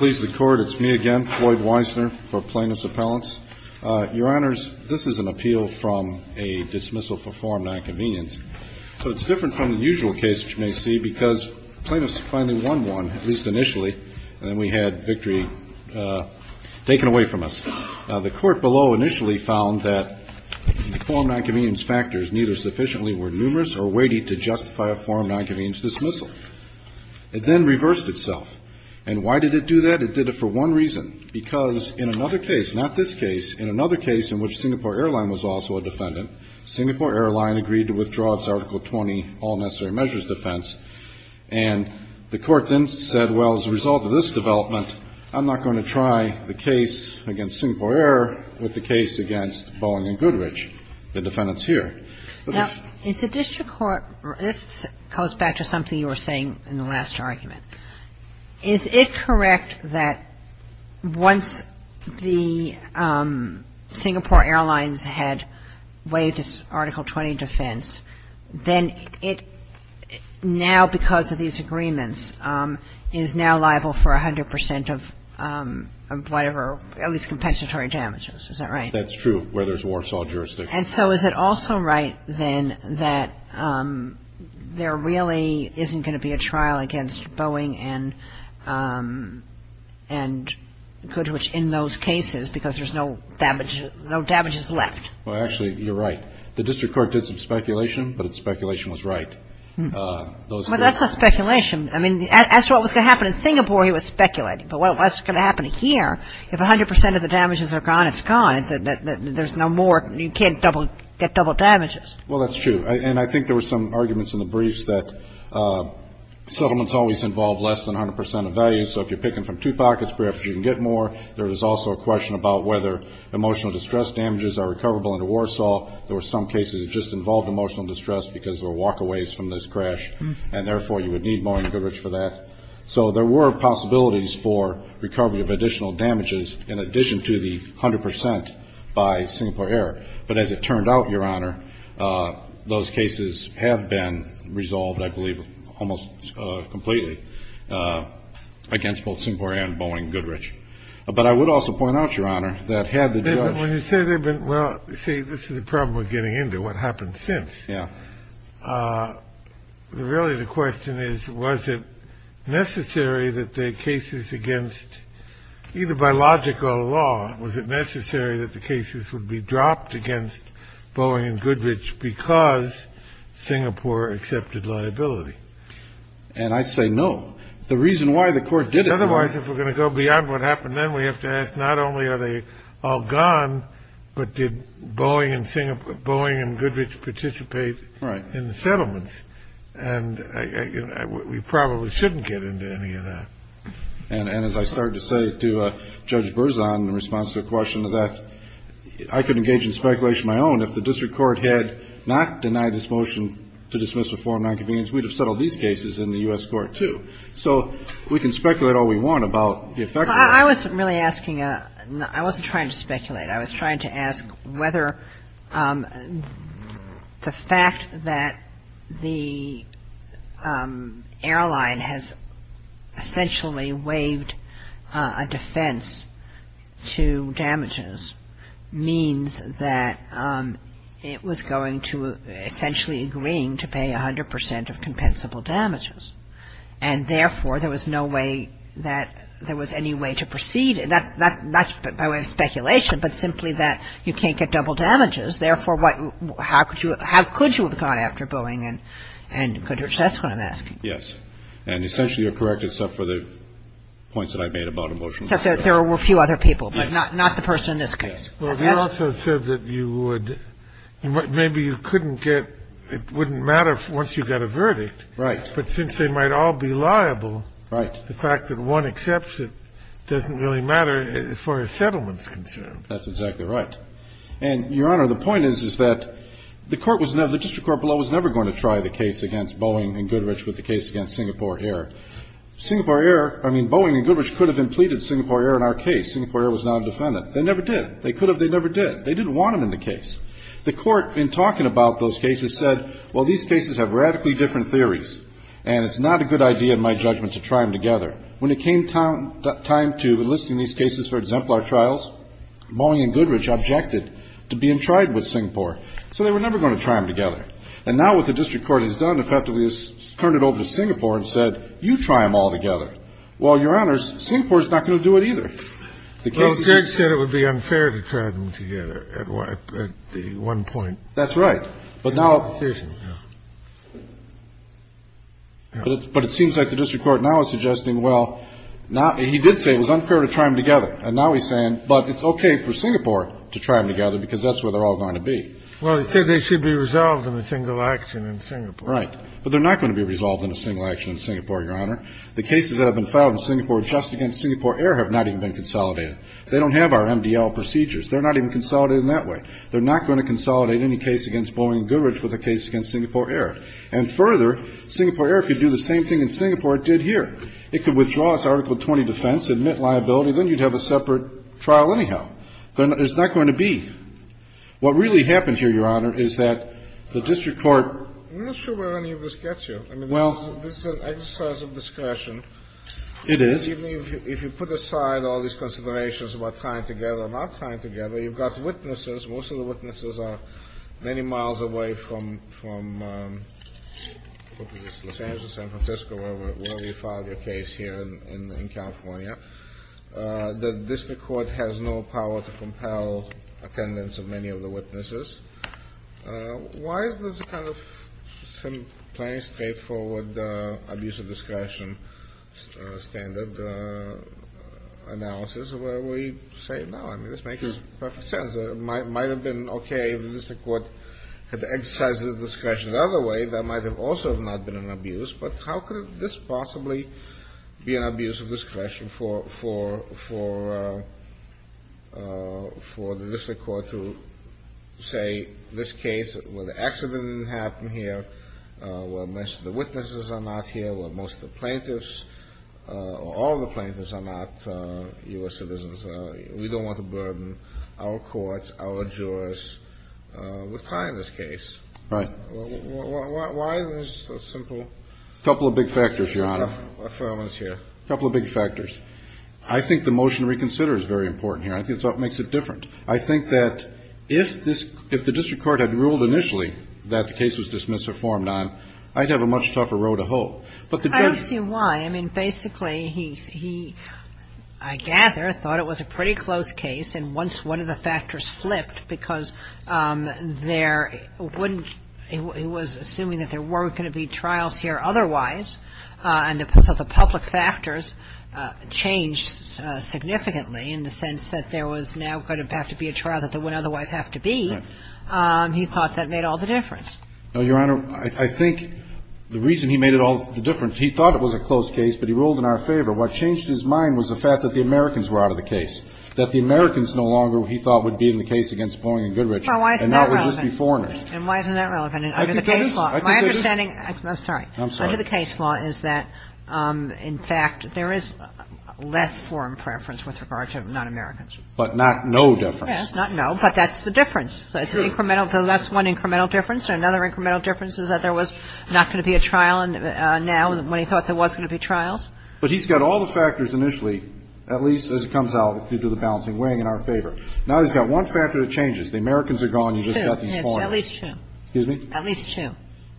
It's me again, Floyd Weissner, for Plaintiff's Appellants. Your Honors, this is an appeal from a dismissal for forum nonconvenience. So it's different from the usual case, which you may see, because plaintiffs finally won one, at least initially, and then we had victory taken away from us. The court below initially found that the forum nonconvenience factors neither sufficiently were numerous or weighty to justify a forum nonconvenience dismissal. It then reversed itself. And why did it do that? It did it for one reason, because in another case, not this case, in another case in which Singapore Airline was also a defendant, Singapore Airline agreed to withdraw its Article 20 all-necessary measures defense, and the court then said, well, as a result of this development, I'm not going to try the case against Singapore Air with the case against Boeing and Goodrich, the defendants here. Now, is the district court, this goes back to something you were saying in the last argument, is it correct that once the Singapore Airlines had waived its Article 20 defense, then it now, because of these agreements, is now liable for 100 percent of whatever, at least compensatory damages. Is that right? That's true, where there's Warsaw jurisdiction. And so is it also right, then, that there really isn't going to be a trial against Boeing and Goodrich in those cases, because there's no damages left? Well, actually, you're right. The district court did some speculation, but its speculation was right. Well, that's not speculation. I mean, as to what was going to happen in Singapore, it was speculated. But what's going to happen here, if 100 percent of the damages are gone, it's gone. And there's no more. You can't get double damages. Well, that's true. And I think there were some arguments in the briefs that settlements always involve less than 100 percent of value. So if you're picking from two pockets, perhaps you can get more. There was also a question about whether emotional distress damages are recoverable under Warsaw. There were some cases that just involved emotional distress because there were walkaways from this crash, and therefore you would need Boeing and Goodrich for that. So there were possibilities for recovery of additional damages in addition to the 100 percent by Singapore Air. But as it turned out, Your Honor, those cases have been resolved, I believe, almost completely against both Singapore Air and Boeing and Goodrich. But I would also point out, Your Honor, that had the judge ---- But when you say they've been ---- well, see, this is the problem we're getting into, what happened since. Yeah. Really, the question is, was it necessary that the cases against ---- either by logic or law, was it necessary that the cases would be dropped against Boeing and Goodrich because Singapore accepted liability? And I say no. The reason why the court did it ---- Otherwise, if we're going to go beyond what happened then, we have to ask not only are they all gone, but did Boeing and Goodrich participate in the settlements? And we probably shouldn't get into any of that. And as I started to say to Judge Berzon in response to the question of that, I could engage in speculation of my own. If the district court had not denied this motion to dismiss the form of nonconvenience, we'd have settled these cases in the U.S. court, too. So we can speculate all we want about the effect of it. Well, I wasn't really asking a ---- I wasn't trying to speculate. I was trying to ask whether the fact that the airline has essentially waived a defense to damages means that it was going to ---- essentially agreeing to pay 100 percent of compensable damages, and therefore there was no way that there was any way to proceed. That's by way of speculation, but simply that you can't get double damages. Therefore, how could you have gone after Boeing and Goodrich? That's what I'm asking. Yes. And essentially you're correct except for the points that I made about a motion. Except that there were a few other people, but not the person in this case. Yes. Well, you also said that you would ---- maybe you couldn't get ---- it wouldn't matter once you got a verdict. Right. But since they might all be liable, the fact that one accepts it doesn't really matter as far as settlement is concerned. That's exactly right. And, Your Honor, the point is, is that the court was never ---- the district court below was never going to try the case against Boeing and Goodrich with the case against Singapore Air. Singapore Air ---- I mean, Boeing and Goodrich could have implemented Singapore Air in our case. Singapore Air was not a defendant. They never did. They could have. They never did. They didn't want them in the case. The court, in talking about those cases, said, well, these cases have radically different theories, and it's not a good idea in my judgment to try them together. When it came time to enlisting these cases for exemplar trials, Boeing and Goodrich objected to being tried with Singapore. So they were never going to try them together. And now what the district court has done effectively is turned it over to Singapore and said, you try them all together. Well, Your Honors, Singapore is not going to do it either. The case is just ---- The one point. That's right. But now ---- But it seems like the district court now is suggesting, well, now he did say it was unfair to try them together. And now he's saying, but it's okay for Singapore to try them together because that's where they're all going to be. Well, he said they should be resolved in a single action in Singapore. Right. But they're not going to be resolved in a single action in Singapore, Your Honor. The cases that have been filed in Singapore just against Singapore Air have not even been consolidated. They don't have our MDL procedures. They're not even consolidated in that way. They're not going to consolidate any case against Boeing and Goodrich with a case against Singapore Air. And further, Singapore Air could do the same thing that Singapore did here. It could withdraw its Article 20 defense, admit liability, then you'd have a separate trial anyhow. But it's not going to be. What really happened here, Your Honor, is that the district court ---- I'm not sure where any of this gets you. Well ---- I mean, this is an exercise of discretion. It is. Even if you put aside all these considerations about trying together or not trying together, you've got witnesses. Most of the witnesses are many miles away from Los Angeles, San Francisco, where we filed the case here in California. The district court has no power to compel attendance of many of the witnesses. Why is this a kind of plain, straightforward abuse of discretion standard analysis where we say, no, I mean, this makes perfect sense. It might have been okay if the district court had exercised its discretion another way. That might have also not been an abuse. But how could this possibly be an abuse of discretion for the district court to say this case, where the accident didn't happen here, where most of the witnesses are not here, where most of the plaintiffs or all of the plaintiffs are not U.S. citizens? We don't want to burden our courts, our jurors with filing this case. Right. Why is this so simple? A couple of big factors, Your Honor. A couple of big factors. I think the motion to reconsider is very important here. I think that's what makes it different. I think that if this ---- if the district court had ruled initially that the case was I'm sorry, if the district court had ruled initially that this case must have been uhhh wronged, I think it was supposed to result in to a case, a search off a road, a hold. I don't see why. I mean, basically he's, he I gather he thought it was a pretty close case, and once ね No, Your Honor, I think the reason he made it all the difference, he thought it was a close case, but he ruled in our favor. What changed his mind was the fact that the Americans were out of the case, that the Americans no longer, he thought, would be in the case against Boeing and Goodrich and now it would just be foreigners. Well, why isn't that relevant? And why isn't that relevant? I think that is. I think that is. My understanding, I'm sorry. I'm sorry. Under the case law is that, in fact, there is less foreign preference with regard to non-Americans. But not no difference. Yes. Not no, but that's the difference. True. It's incremental. So that's one incremental difference. Another incremental difference is that there was not going to be a trial now when he thought there was going to be trials. But he's got all the factors initially, at least as it comes out due to the balancing wing, in our favor. Now he's got one factor that changes. The Americans are gone. You've just got these foreigners. At least true. Excuse me? At least true.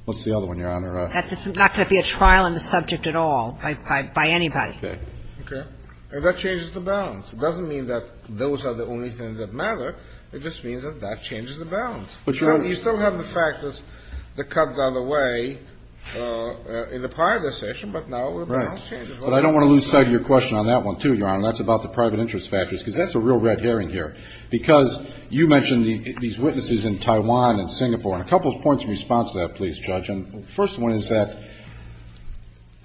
What's the other one, Your Honor? That there's not going to be a trial on the subject at all by anybody. Okay. Okay. And that changes the balance. It doesn't mean that those are the only things that matter. It just means that that changes the balance. You still have the fact that the Cubs are away in the prior decision, but now the balance changes. Right. But I don't want to lose sight of your question on that one, too, Your Honor. That's about the private interest factors, because that's a real red herring here. Because you mentioned these witnesses in Taiwan and Singapore. And a couple of points in response to that, please, Judge. First one is that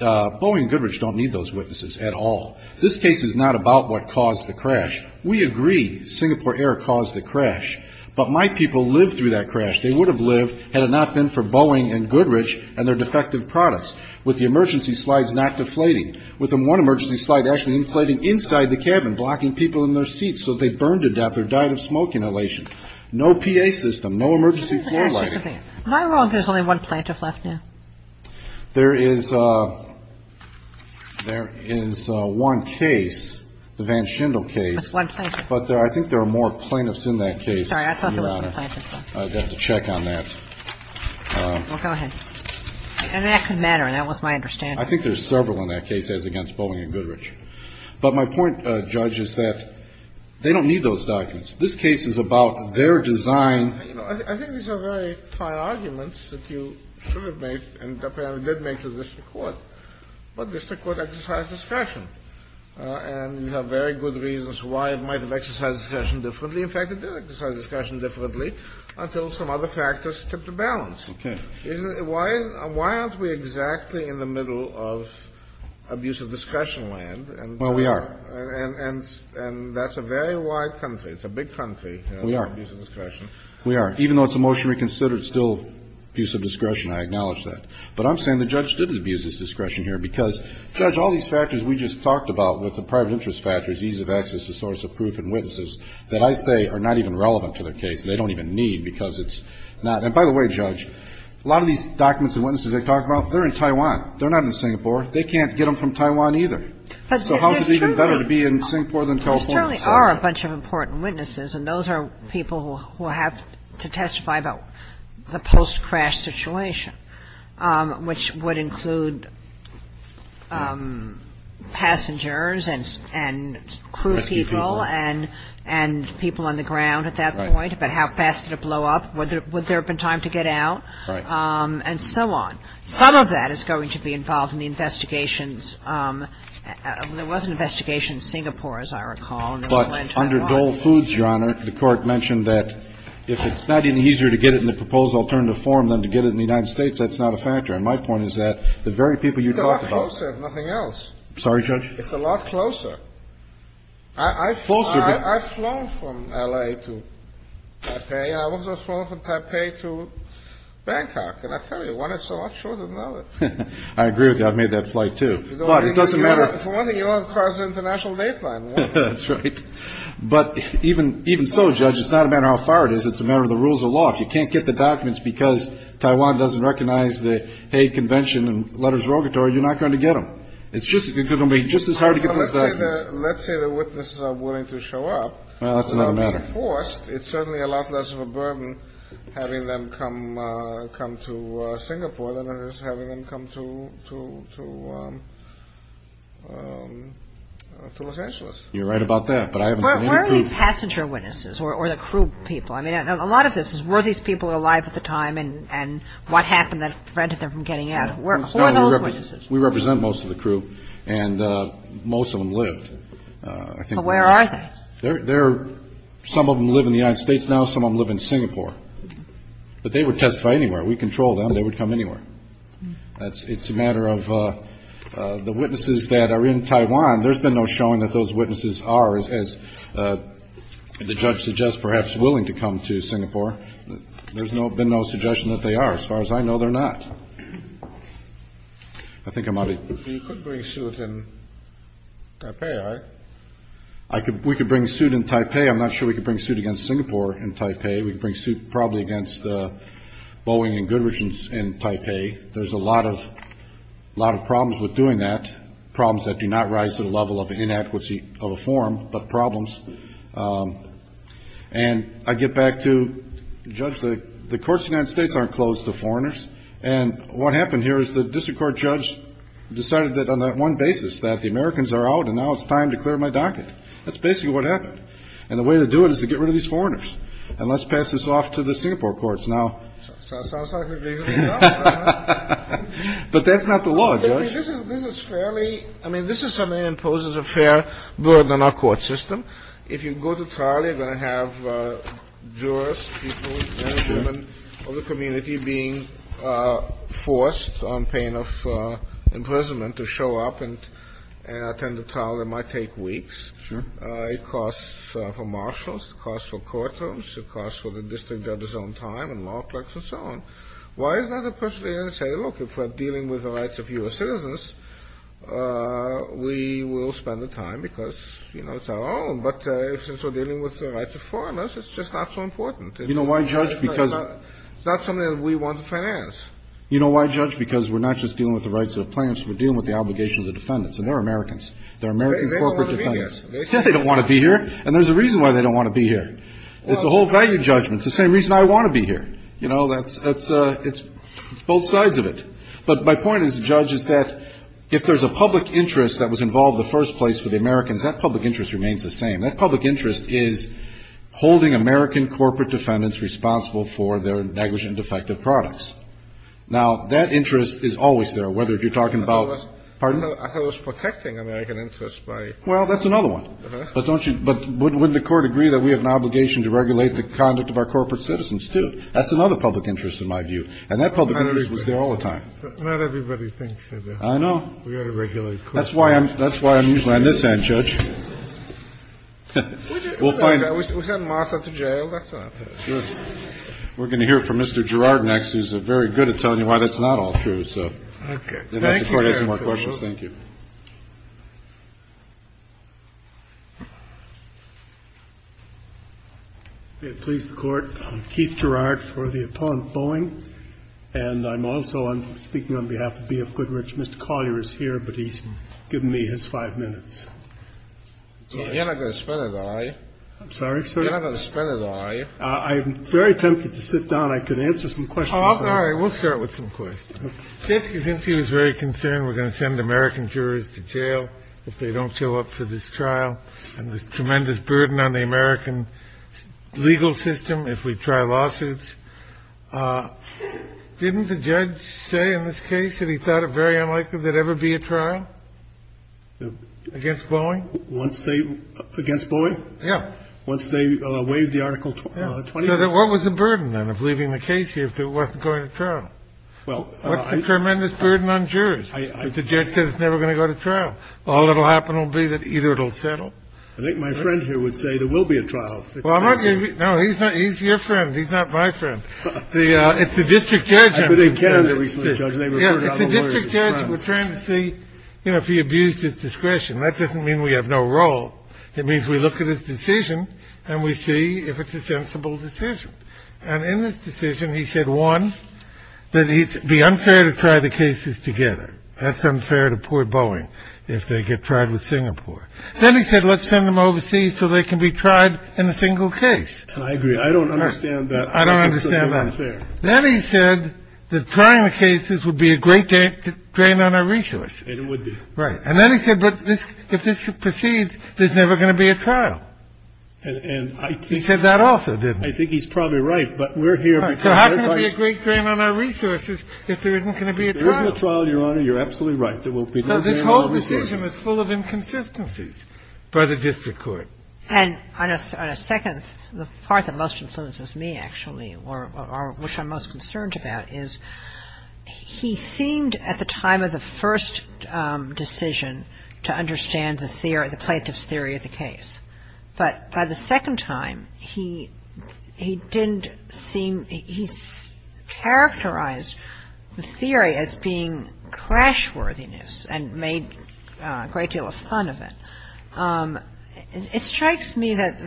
Boeing and Goodrich don't need those witnesses at all. This case is not about what caused the crash. We agree Singapore Air caused the crash. But my people lived through that crash. They would have lived had it not been for Boeing and Goodrich and their defective products, with the emergency slides not deflating, with one emergency slide actually inflating inside the cabin, blocking people in their seats so they burned to death or died of smoke inhalation. No PA system. No emergency floor lighting. My role is there's only one plaintiff left now. There is one case, the Van Schendel case. But I think there are more plaintiffs in that case, Your Honor. I'd have to check on that. Well, go ahead. And that could matter. That was my understanding. I think there's several in that case as against Boeing and Goodrich. But my point, Judge, is that they don't need those documents. This case is about their design. I think these are very fine arguments that you should have made and apparently did make to the district court. But district court exercised discretion. And you have very good reasons why it might have exercised discretion differently. In fact, it did exercise discretion differently until some other factors tipped the balance. Okay. Why aren't we exactly in the middle of abuse of discretion land? Well, we are. And that's a very wide country. It's a big country. We are. Abuse of discretion. We are. Even though it's a motion to reconsider, it's still abuse of discretion. I acknowledge that. But I'm saying the judge did abuse of discretion here because, Judge, all these factors we just talked about with the private interest factors, ease of access, the source of proof and witnesses, that I say are not even relevant to the case. They don't even need because it's not. And by the way, Judge, a lot of these documents and witnesses they talk about, they're in Taiwan. They're not in Singapore. They can't get them from Taiwan either. So how is it even better to be in Singapore than California? There certainly are a bunch of important witnesses, and those are people who have to testify about the post-crash situation, which would include passengers and crew people and people on the ground at that point, about how fast did it blow up, would there have been time to get out, and so on. Some of that is going to be involved in the investigations. There was an investigation in Singapore, as I recall. But under Dole Foods, Your Honor, the court mentioned that if it's not any easier to get it in the proposed alternative form than to get it in the United States, that's not a factor. And my point is that the very people you talked about ---- It's a lot closer, if nothing else. Sorry, Judge? It's a lot closer. I've flown from L.A. to Taipei. I've also flown from Taipei to Bangkok. And I tell you, one is so much shorter than the other. I agree with you. I've made that flight, too. But it doesn't matter ---- That's right. But even so, Judge, it's not a matter of how far it is. It's a matter of the rules of law. If you can't get the documents because Taiwan doesn't recognize the Hague Convention and letters of rogatory, you're not going to get them. It's just going to be just as hard to get those documents. Well, let's say the witnesses are willing to show up. Well, that's another matter. Without being forced, it's certainly a lot less of a burden having them come to Singapore than it is having them come to Los Angeles. You're right about that. But I haven't seen any crew. Where are the passenger witnesses or the crew people? I mean, a lot of this is were these people alive at the time and what happened that prevented them from getting out? Who are those witnesses? We represent most of the crew, and most of them lived. Where are they? Some of them live in the United States now. Some of them live in Singapore. But they would testify anywhere. We control them. So they would come anywhere. It's a matter of the witnesses that are in Taiwan. There's been no showing that those witnesses are, as the judge suggests, perhaps willing to come to Singapore. There's been no suggestion that they are. As far as I know, they're not. I think I'm out of here. So you could bring suit in Taipei, right? We could bring suit in Taipei. I'm not sure we could bring suit against Singapore in Taipei. We could bring suit probably against Boeing and Goodrich in Taipei. There's a lot of problems with doing that, problems that do not rise to the level of an inadequacy of a form, but problems. And I get back to, Judge, the courts in the United States aren't closed to foreigners. And what happened here is the district court judge decided that on that one basis, that the Americans are out and now it's time to clear my docket. That's basically what happened. And the way to do it is to get rid of these foreigners. And let's pass this off to the Singapore courts now. But that's not the law, Judge. I mean, this is something that imposes a fair burden on our court system. If you go to trial, you're going to have jurors, people, men and women of the community being forced on pain of imprisonment to show up and attend the trial. It might take weeks. Sure. It costs for marshals. It costs for courtrooms. It costs for the district judge's own time and law clerks and so on. Why is that? Because they say, look, if we're dealing with the rights of U.S. citizens, we will spend the time because, you know, it's our own. But since we're dealing with the rights of foreigners, it's just not so important. You know why, Judge? Because it's not something that we want to finance. You know why, Judge? Because we're not just dealing with the rights of plaintiffs. We're dealing with the obligation of the defendants. And they're Americans. They're American corporate defendants. They don't want to be here. And there's a reason why they don't want to be here. It's a whole value judgment. It's the same reason I want to be here. You know, that's — it's both sides of it. But my point is, Judge, is that if there's a public interest that was involved in the first place for the Americans, that public interest remains the same. That public interest is holding American corporate defendants responsible for their negligent and defective products. Now, that interest is always there, whether you're talking about — I thought it was protecting American interests by — Well, that's another one. But don't you — but wouldn't the Court agree that we have an obligation to regulate the conduct of our corporate citizens, too? That's another public interest, in my view. And that public interest was there all the time. Not everybody thinks that. I know. We ought to regulate corporate — That's why I'm usually on this end, Judge. We'll find out. We send Martha to jail. That's not — Good. We're going to hear from Mr. Girard next, who's very good at telling you why that's not all true. Okay. Thank you, Judge. This Court has no more questions. Thank you. Please, the Court. I'm Keith Girard for the Appellant Boeing. And I'm also — I'm speaking on behalf of BF Goodrich. Mr. Collier is here, but he's given me his five minutes. You're not going to spend it, are you? I'm sorry, sir? You're not going to spend it, are you? I'm very tempted to sit down. I could answer some questions. All right. We'll start with some questions. Judge Kaczynski was very concerned we're going to send American jurors to jail if they don't show up for this trial. And there's tremendous burden on the American legal system if we try lawsuits. Didn't the judge say in this case that he thought it very unlikely there'd ever be a trial against Boeing? Once they — against Boeing? Yeah. Once they waived the Article 20? So what was the burden, then, of leaving the case here if it wasn't going to trial? Well — What's the tremendous burden on jurors? The judge said it's never going to go to trial. All that'll happen will be that either it'll settle — I think my friend here would say there will be a trial. Well, I'm not going to — no, he's not — he's your friend. He's not my friend. The — it's the district judge — But in Canada recently, Judge, they referred to other lawyers as friends. Yeah, it's the district judge that was trying to see, you know, if he abused his discretion. That doesn't mean we have no role. It means we look at his decision and we see if it's a sensible decision. And in this decision, he said, one, that it'd be unfair to try the cases together. That's unfair to poor Boeing if they get tried with Singapore. Then he said, let's send them overseas so they can be tried in a single case. I agree. I don't understand that. I don't understand that. I think it's unfair. Then he said that trying the cases would be a great drain on our resources. And it would be. Right. And then he said, but if this proceeds, there's never going to be a trial. And I think — He said that also, didn't he? I think he's probably right. But we're here because — So how can it be a great drain on our resources if there isn't going to be a trial? There isn't a trial, Your Honor. You're absolutely right. There will be no drain on our resources. But this whole decision is full of inconsistencies for the district court. And on a second — the part that most influences me, actually, or which I'm most concerned about is he seemed, at the time of the first decision, to understand the theory — the plaintiff's theory of the case. But by the second time, he didn't seem — he characterized the theory as being crashworthiness and made a great deal of fun of it. It strikes me that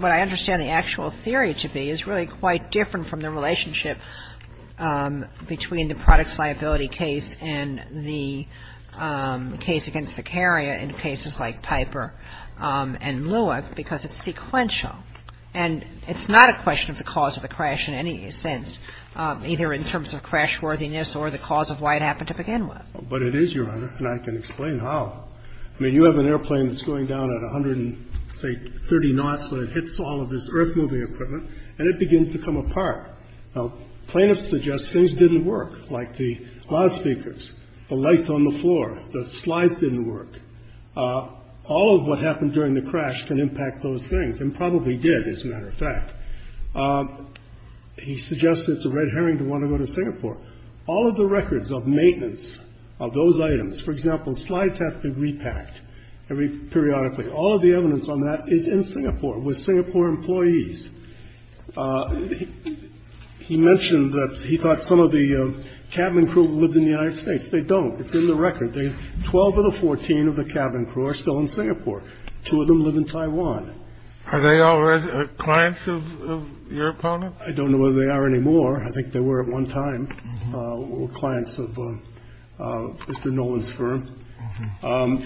what I understand the actual theory to be is really quite different from the relationship between the products liability case and the case against Vicaria in cases like Piper and Lua, because it's sequential. And it's not a question of the cause of the crash in any sense, either in terms of crashworthiness or the cause of why it happened to begin with. But it is, Your Honor, and I can explain how. I mean, you have an airplane that's going down at 130 knots when it hits all of this earth-moving equipment, and it begins to come apart. Now, plaintiffs suggest things didn't work, like the loudspeakers, the lights on the floor, the slides didn't work. All of what happened during the crash can impact those things, and probably did, as a matter of fact. He suggested it's a red herring to want to go to Singapore. All of the records of maintenance of those items — for example, slides have to be repacked periodically — all of the evidence on that is in Singapore with Singapore employees. He mentioned that he thought some of the cabin crew lived in the United States. They don't. It's in the record. The 12 of the 14 of the cabin crew are still in Singapore. Two of them live in Taiwan. Are they all clients of your opponent? I don't know whether they are anymore. I think they were at one time clients of Mr. Nolan's firm. But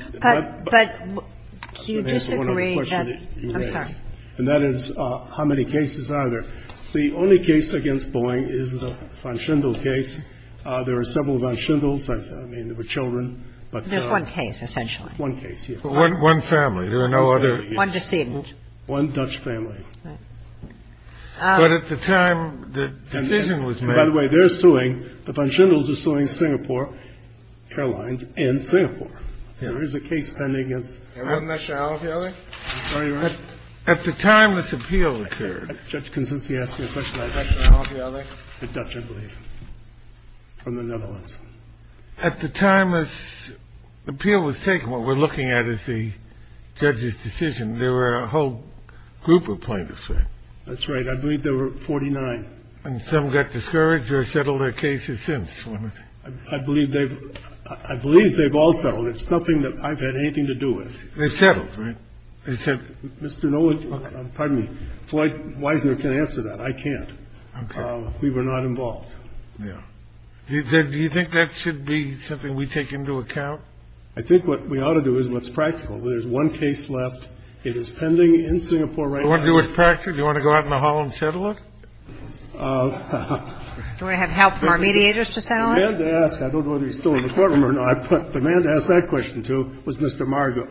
do you disagree that — And that is how many cases are there. The only case against Boeing is the Van Schendel case. There are several Van Schendels. I mean, there were children, but — There's one case, essentially. One case, yes. One family. There are no other — One decedent. One Dutch family. But at the time the decision was made — By the way, they're suing — the Van Schendels are suing Singapore Airlines and Singapore. There is a case pending against — And one nationality or the other? I'm sorry, Your Honor? At the time this appeal occurred. Judge Consensi asked me a question. Nationality or the other? The Dutch, I believe, from the Netherlands. At the time this appeal was taken, what we're looking at is the judge's decision. There were a whole group of plaintiffs, right? That's right. I believe there were 49. And some got discouraged or settled their cases since. I believe they've — I believe they've all settled. It's nothing that I've had anything to do with. They've settled, right? They've settled. Mr. Nolan — pardon me. Floyd Weisner can answer that. I can't. We were not involved. Do you think that should be something we take into account? I think what we ought to do is what's practical. There's one case left. It is pending in Singapore right now. Do you want to do what's practical? Do you want to go out in the hall and settle it? Do you want to have help from our mediators to settle it? The man to ask — I don't know whether he's still in the courtroom or not, but the man to ask that question to was Mr. Margo.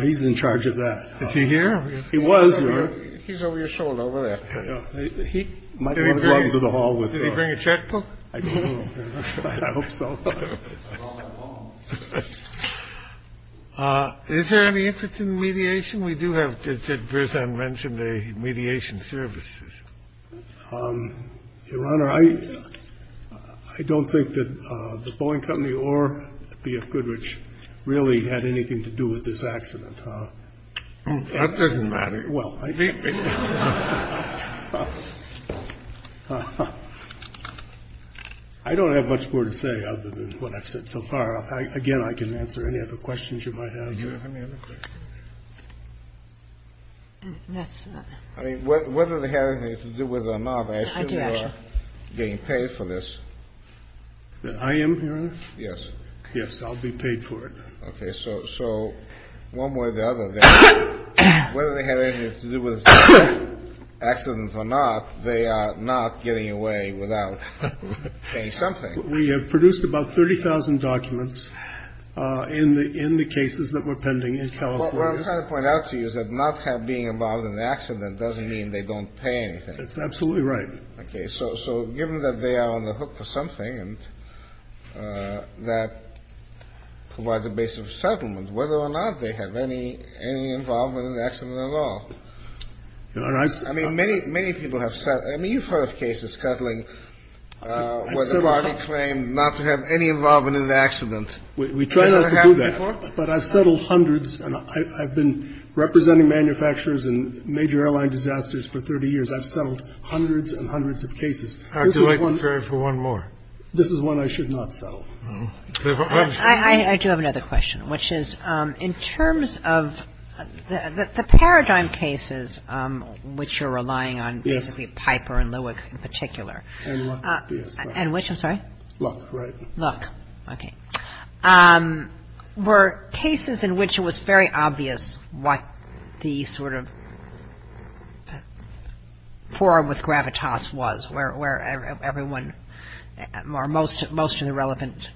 He's in charge of that. Is he here? He was, Your Honor. He's over your shoulder over there. He might want to come to the hall with me. Did he bring a checkbook? I don't know. I hope so. Is there any interest in mediation? We do have — did Bersan mention the mediation services? Your Honor, I don't think that the Boeing Company or BF Goodrich really had anything to do with this accident. That doesn't matter. Well, I mean — I don't have much more to say other than what I've said so far. Again, I can answer any other questions you might have. Do you have any other questions? I mean, whether they had anything to do with the mob, I assume you're getting paid for this. I am, Your Honor? Yes. Yes, I'll be paid for it. Okay. So one way or the other, whether they had anything to do with accidents or not, they are not getting away without paying something. We have produced about 30,000 documents in the cases that we're pending in California. What I'm trying to point out to you is that not being involved in an accident doesn't mean they don't pay anything. That's absolutely right. Okay. So given that they are on the hook for something and that provides a base of settlement, whether or not they have any involvement in the accident at all. Your Honor, I've — I mean, many people have said — I mean, you've heard of cases cuddling where the body claimed not to have any involvement in the accident. We try not to do that. Has that happened before? But I've settled hundreds, and I've been representing manufacturers in major airline disasters for 30 years. I've settled hundreds and hundreds of cases. This is one — I'd like to refer for one more. This is one I should not settle. I do have another question, which is in terms of the paradigm cases which you're relying on — Yes. — basically Piper and Lewick in particular. And Luck, yes. And which, I'm sorry? Luck, right. Luck. Okay. Were cases in which it was very obvious what the sort of forum with gravitas was, where everyone or most of the relevant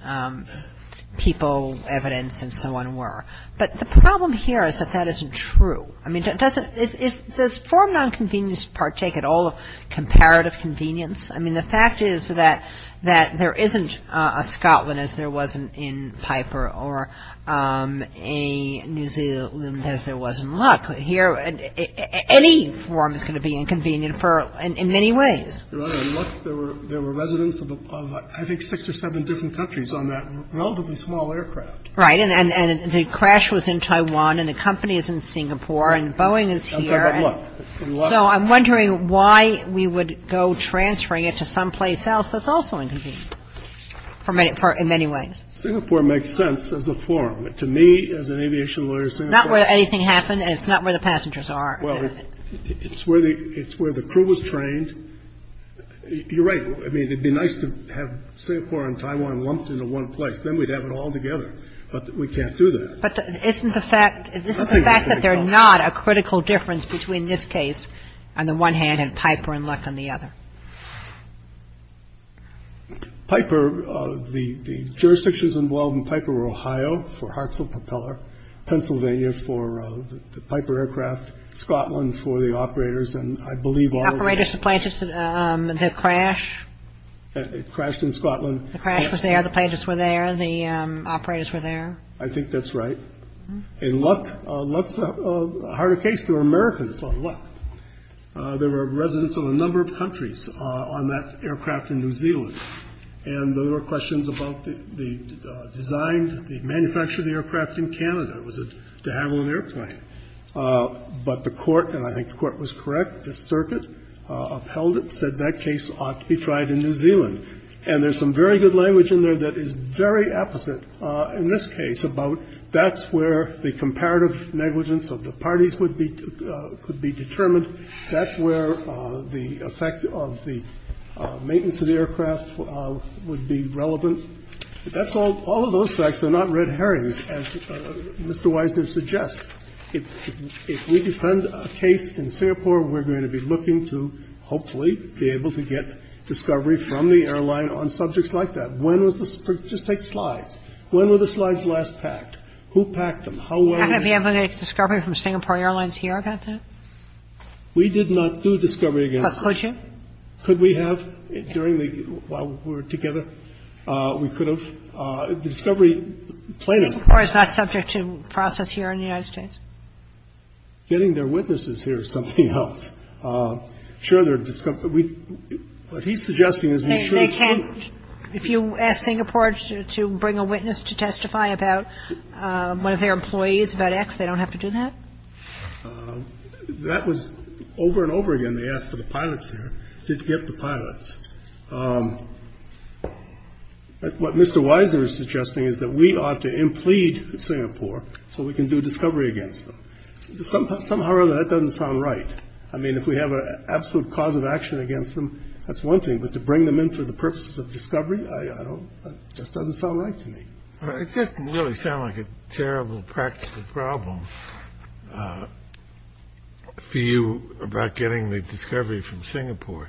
people, evidence, and so on were. But the problem here is that that isn't true. I mean, does forum nonconvenience partake at all of comparative convenience? I mean, the fact is that there isn't a Scotland, as there was in Piper, or a New Zealand, as there was in Luck. Here, any forum is going to be inconvenient in many ways. Right. In Luck, there were residents of, I think, six or seven different countries on that relatively small aircraft. Right. And the crash was in Taiwan, and the company is in Singapore, and Boeing is here. But look. So I'm wondering why we would go transferring it to someplace else that's also inconvenient in many ways. Singapore makes sense as a forum. To me, as an aviation lawyer, Singapore— It's not where anything happened, and it's not where the passengers are. Well, it's where the crew was trained. You're right. I mean, it would be nice to have Singapore and Taiwan lumped into one place. Then we'd have it all together. But we can't do that. But isn't the fact that there's not a critical difference between this case on the one hand and Piper and Luck on the other? Piper, the jurisdictions involved in Piper were Ohio for Hartzell Propeller, Pennsylvania for the Piper aircraft, Scotland for the operators, and I believe— Operators, the plane just—the crash? It crashed in Scotland. The crash was there. The plane just went there. The operators were there. I think that's right. In Luck, Luck's a harder case. They were Americans on Luck. There were residents of a number of countries on that aircraft in New Zealand. And there were questions about the design, the manufacture of the aircraft in Canada. Was it to have on an airplane? But the Court, and I think the Court was correct, the circuit upheld it, said that case ought to be tried in New Zealand. And there's some very good language in there that is very apposite in this case about that's where the comparative negligence of the parties would be determined, that's where the effect of the maintenance of the aircraft would be relevant. That's all of those facts. They're not red herrings, as Mr. Wisner suggests. If we defend a case in Singapore, we're going to be looking to hopefully be able to get discovery from the airline on subjects like that. When was this? Just take slides. When were the slides last packed? Who packed them? How well were they packed? Kagan. I'm not going to be able to get discovery from Singapore Airlines here about that. We did not do discovery against them. But could you? Could we have during the, while we were together? We could have. The discovery, the plane. Singapore is not subject to process here in the United States. Getting their witnesses here is something else. I'm sure they're, what he's suggesting is we should have. If you ask Singapore to bring a witness to testify about one of their employees about X, they don't have to do that? That was over and over again. They asked for the pilots here. Just get the pilots. What Mr. Wisner is suggesting is that we ought to implead Singapore so we can do discovery against them. Somehow or other, that doesn't sound right. I mean, if we have an absolute cause of action against them, that's one thing. But to bring them in for the purposes of discovery, I don't, just doesn't sound right to me. It doesn't really sound like a terrible practical problem for you about getting the discovery from Singapore.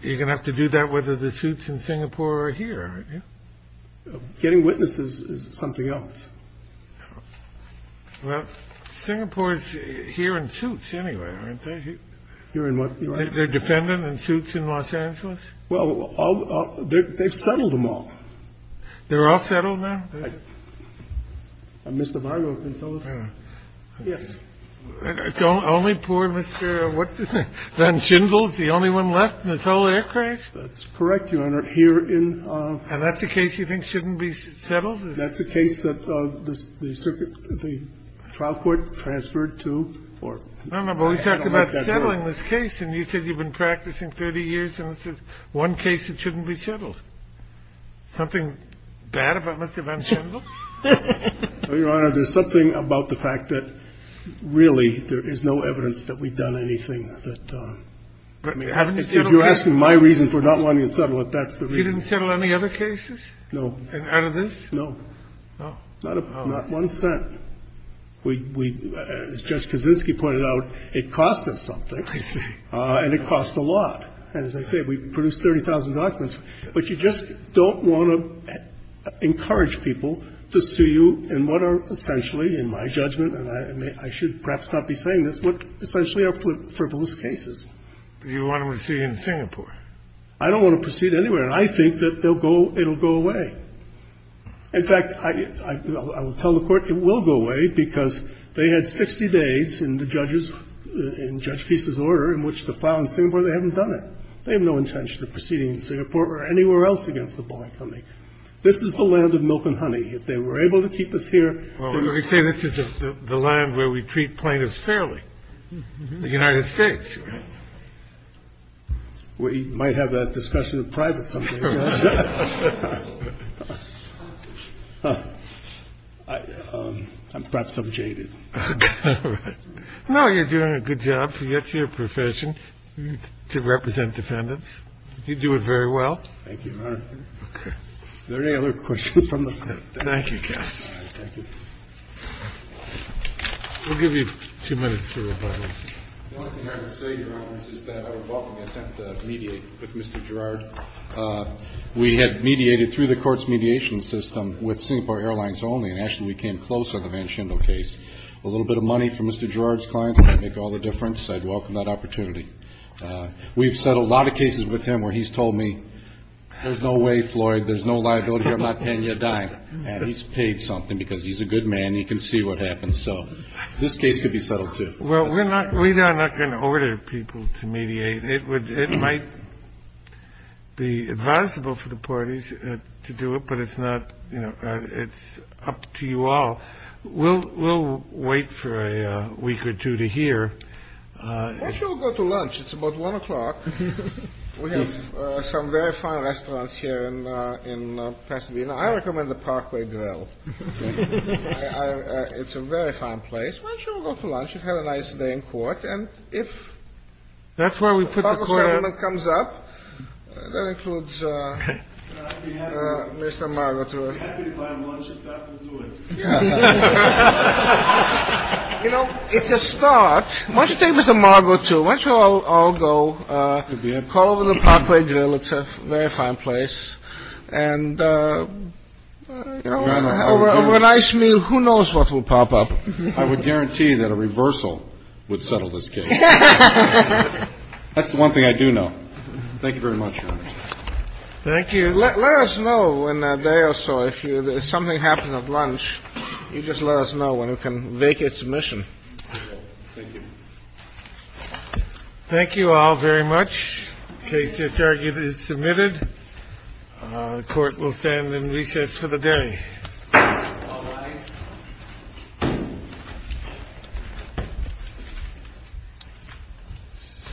You're going to have to do that whether the suits in Singapore are here. Getting witnesses is something else. Well, Singapore is here in suits anyway, aren't they? Here in what? Their defendant in suits in Los Angeles. Well, they've settled them all. They're all settled now? Mr. Barlow can tell us. Yes. Only poor Mr. Van Schindel is the only one left in this whole air crash? That's correct, Your Honor. Here in. And that's the case you think shouldn't be settled? That's the case that the circuit, the trial court transferred to. No, no. But we talked about settling this case and you said you've been practicing 30 years and this is one case that shouldn't be settled. Something bad about Mr. Van Schindel? No, Your Honor. There's something about the fact that really there is no evidence that we've done anything that. I mean, if you're asking my reason for not wanting to settle it, that's the reason. You didn't settle any other cases? No. Out of this? No. Not one cent. As Judge Kaczynski pointed out, it cost us something. I see. And it cost a lot. And as I said, we produced 30,000 documents. But you just don't want to encourage people to sue you in what are essentially, in my judgment, and I should perhaps not be saying this, what essentially are frivolous cases. Do you want them to sue you in Singapore? I don't want to proceed anywhere. And I think that it will go away. In fact, I will tell the Court it will go away because they had 60 days in the judge's order in which to file in Singapore. They haven't done it. They have no intention of proceeding in Singapore or anywhere else against the bar company. This is the land of milk and honey. If they were able to keep us here. You're saying this is the land where we treat plaintiffs fairly, the United States. We might have that discussion in private sometime. I'm perhaps I'm jaded. No, you're doing a good job. That's your profession, to represent defendants. You do it very well. Thank you, Your Honor. Are there any other questions from the Court? Thank you, counsel. Thank you. We'll give you two minutes for rebuttal. The only thing I would say, Your Honor, is that I would welcome the attempt to mediate with Mr. Girard. We had mediated through the court's mediation system with Singapore Airlines only, and actually we came close on the Van Schendel case. A little bit of money from Mr. Girard's clients might make all the difference. I'd welcome that opportunity. We've settled a lot of cases with him where he's told me, there's no way, Floyd, there's no liability. I'm not paying you a dime. And he's paid something because he's a good man. He can see what happens. So this case could be settled, too. Well, we are not going to order people to mediate. It might be advisable for the parties to do it, but it's up to you all. We'll wait for a week or two to hear. Why don't you all go to lunch? It's about 1 o'clock. We have some very fine restaurants here in Pasadena. I recommend the Parkway Grill. It's a very fine place. Why don't you all go to lunch? You've had a nice day in court. And if the public sentiment comes up, that includes Mr. Margot, too. I'd be happy to buy him lunch if that will do it. You know, it's a start. Why don't you take Mr. Margot, too? Why don't you all go? Call over to the Parkway Grill. It's a very fine place. And over a nice meal, who knows what will pop up? I would guarantee that a reversal would settle this case. That's the one thing I do know. Thank you very much, Your Honor. Thank you. Let us know in a day or so. If something happens at lunch, you just let us know and we can make a submission. Thank you. Thank you all very much. The case is submitted. The Court will stand in recess for the day. All rise.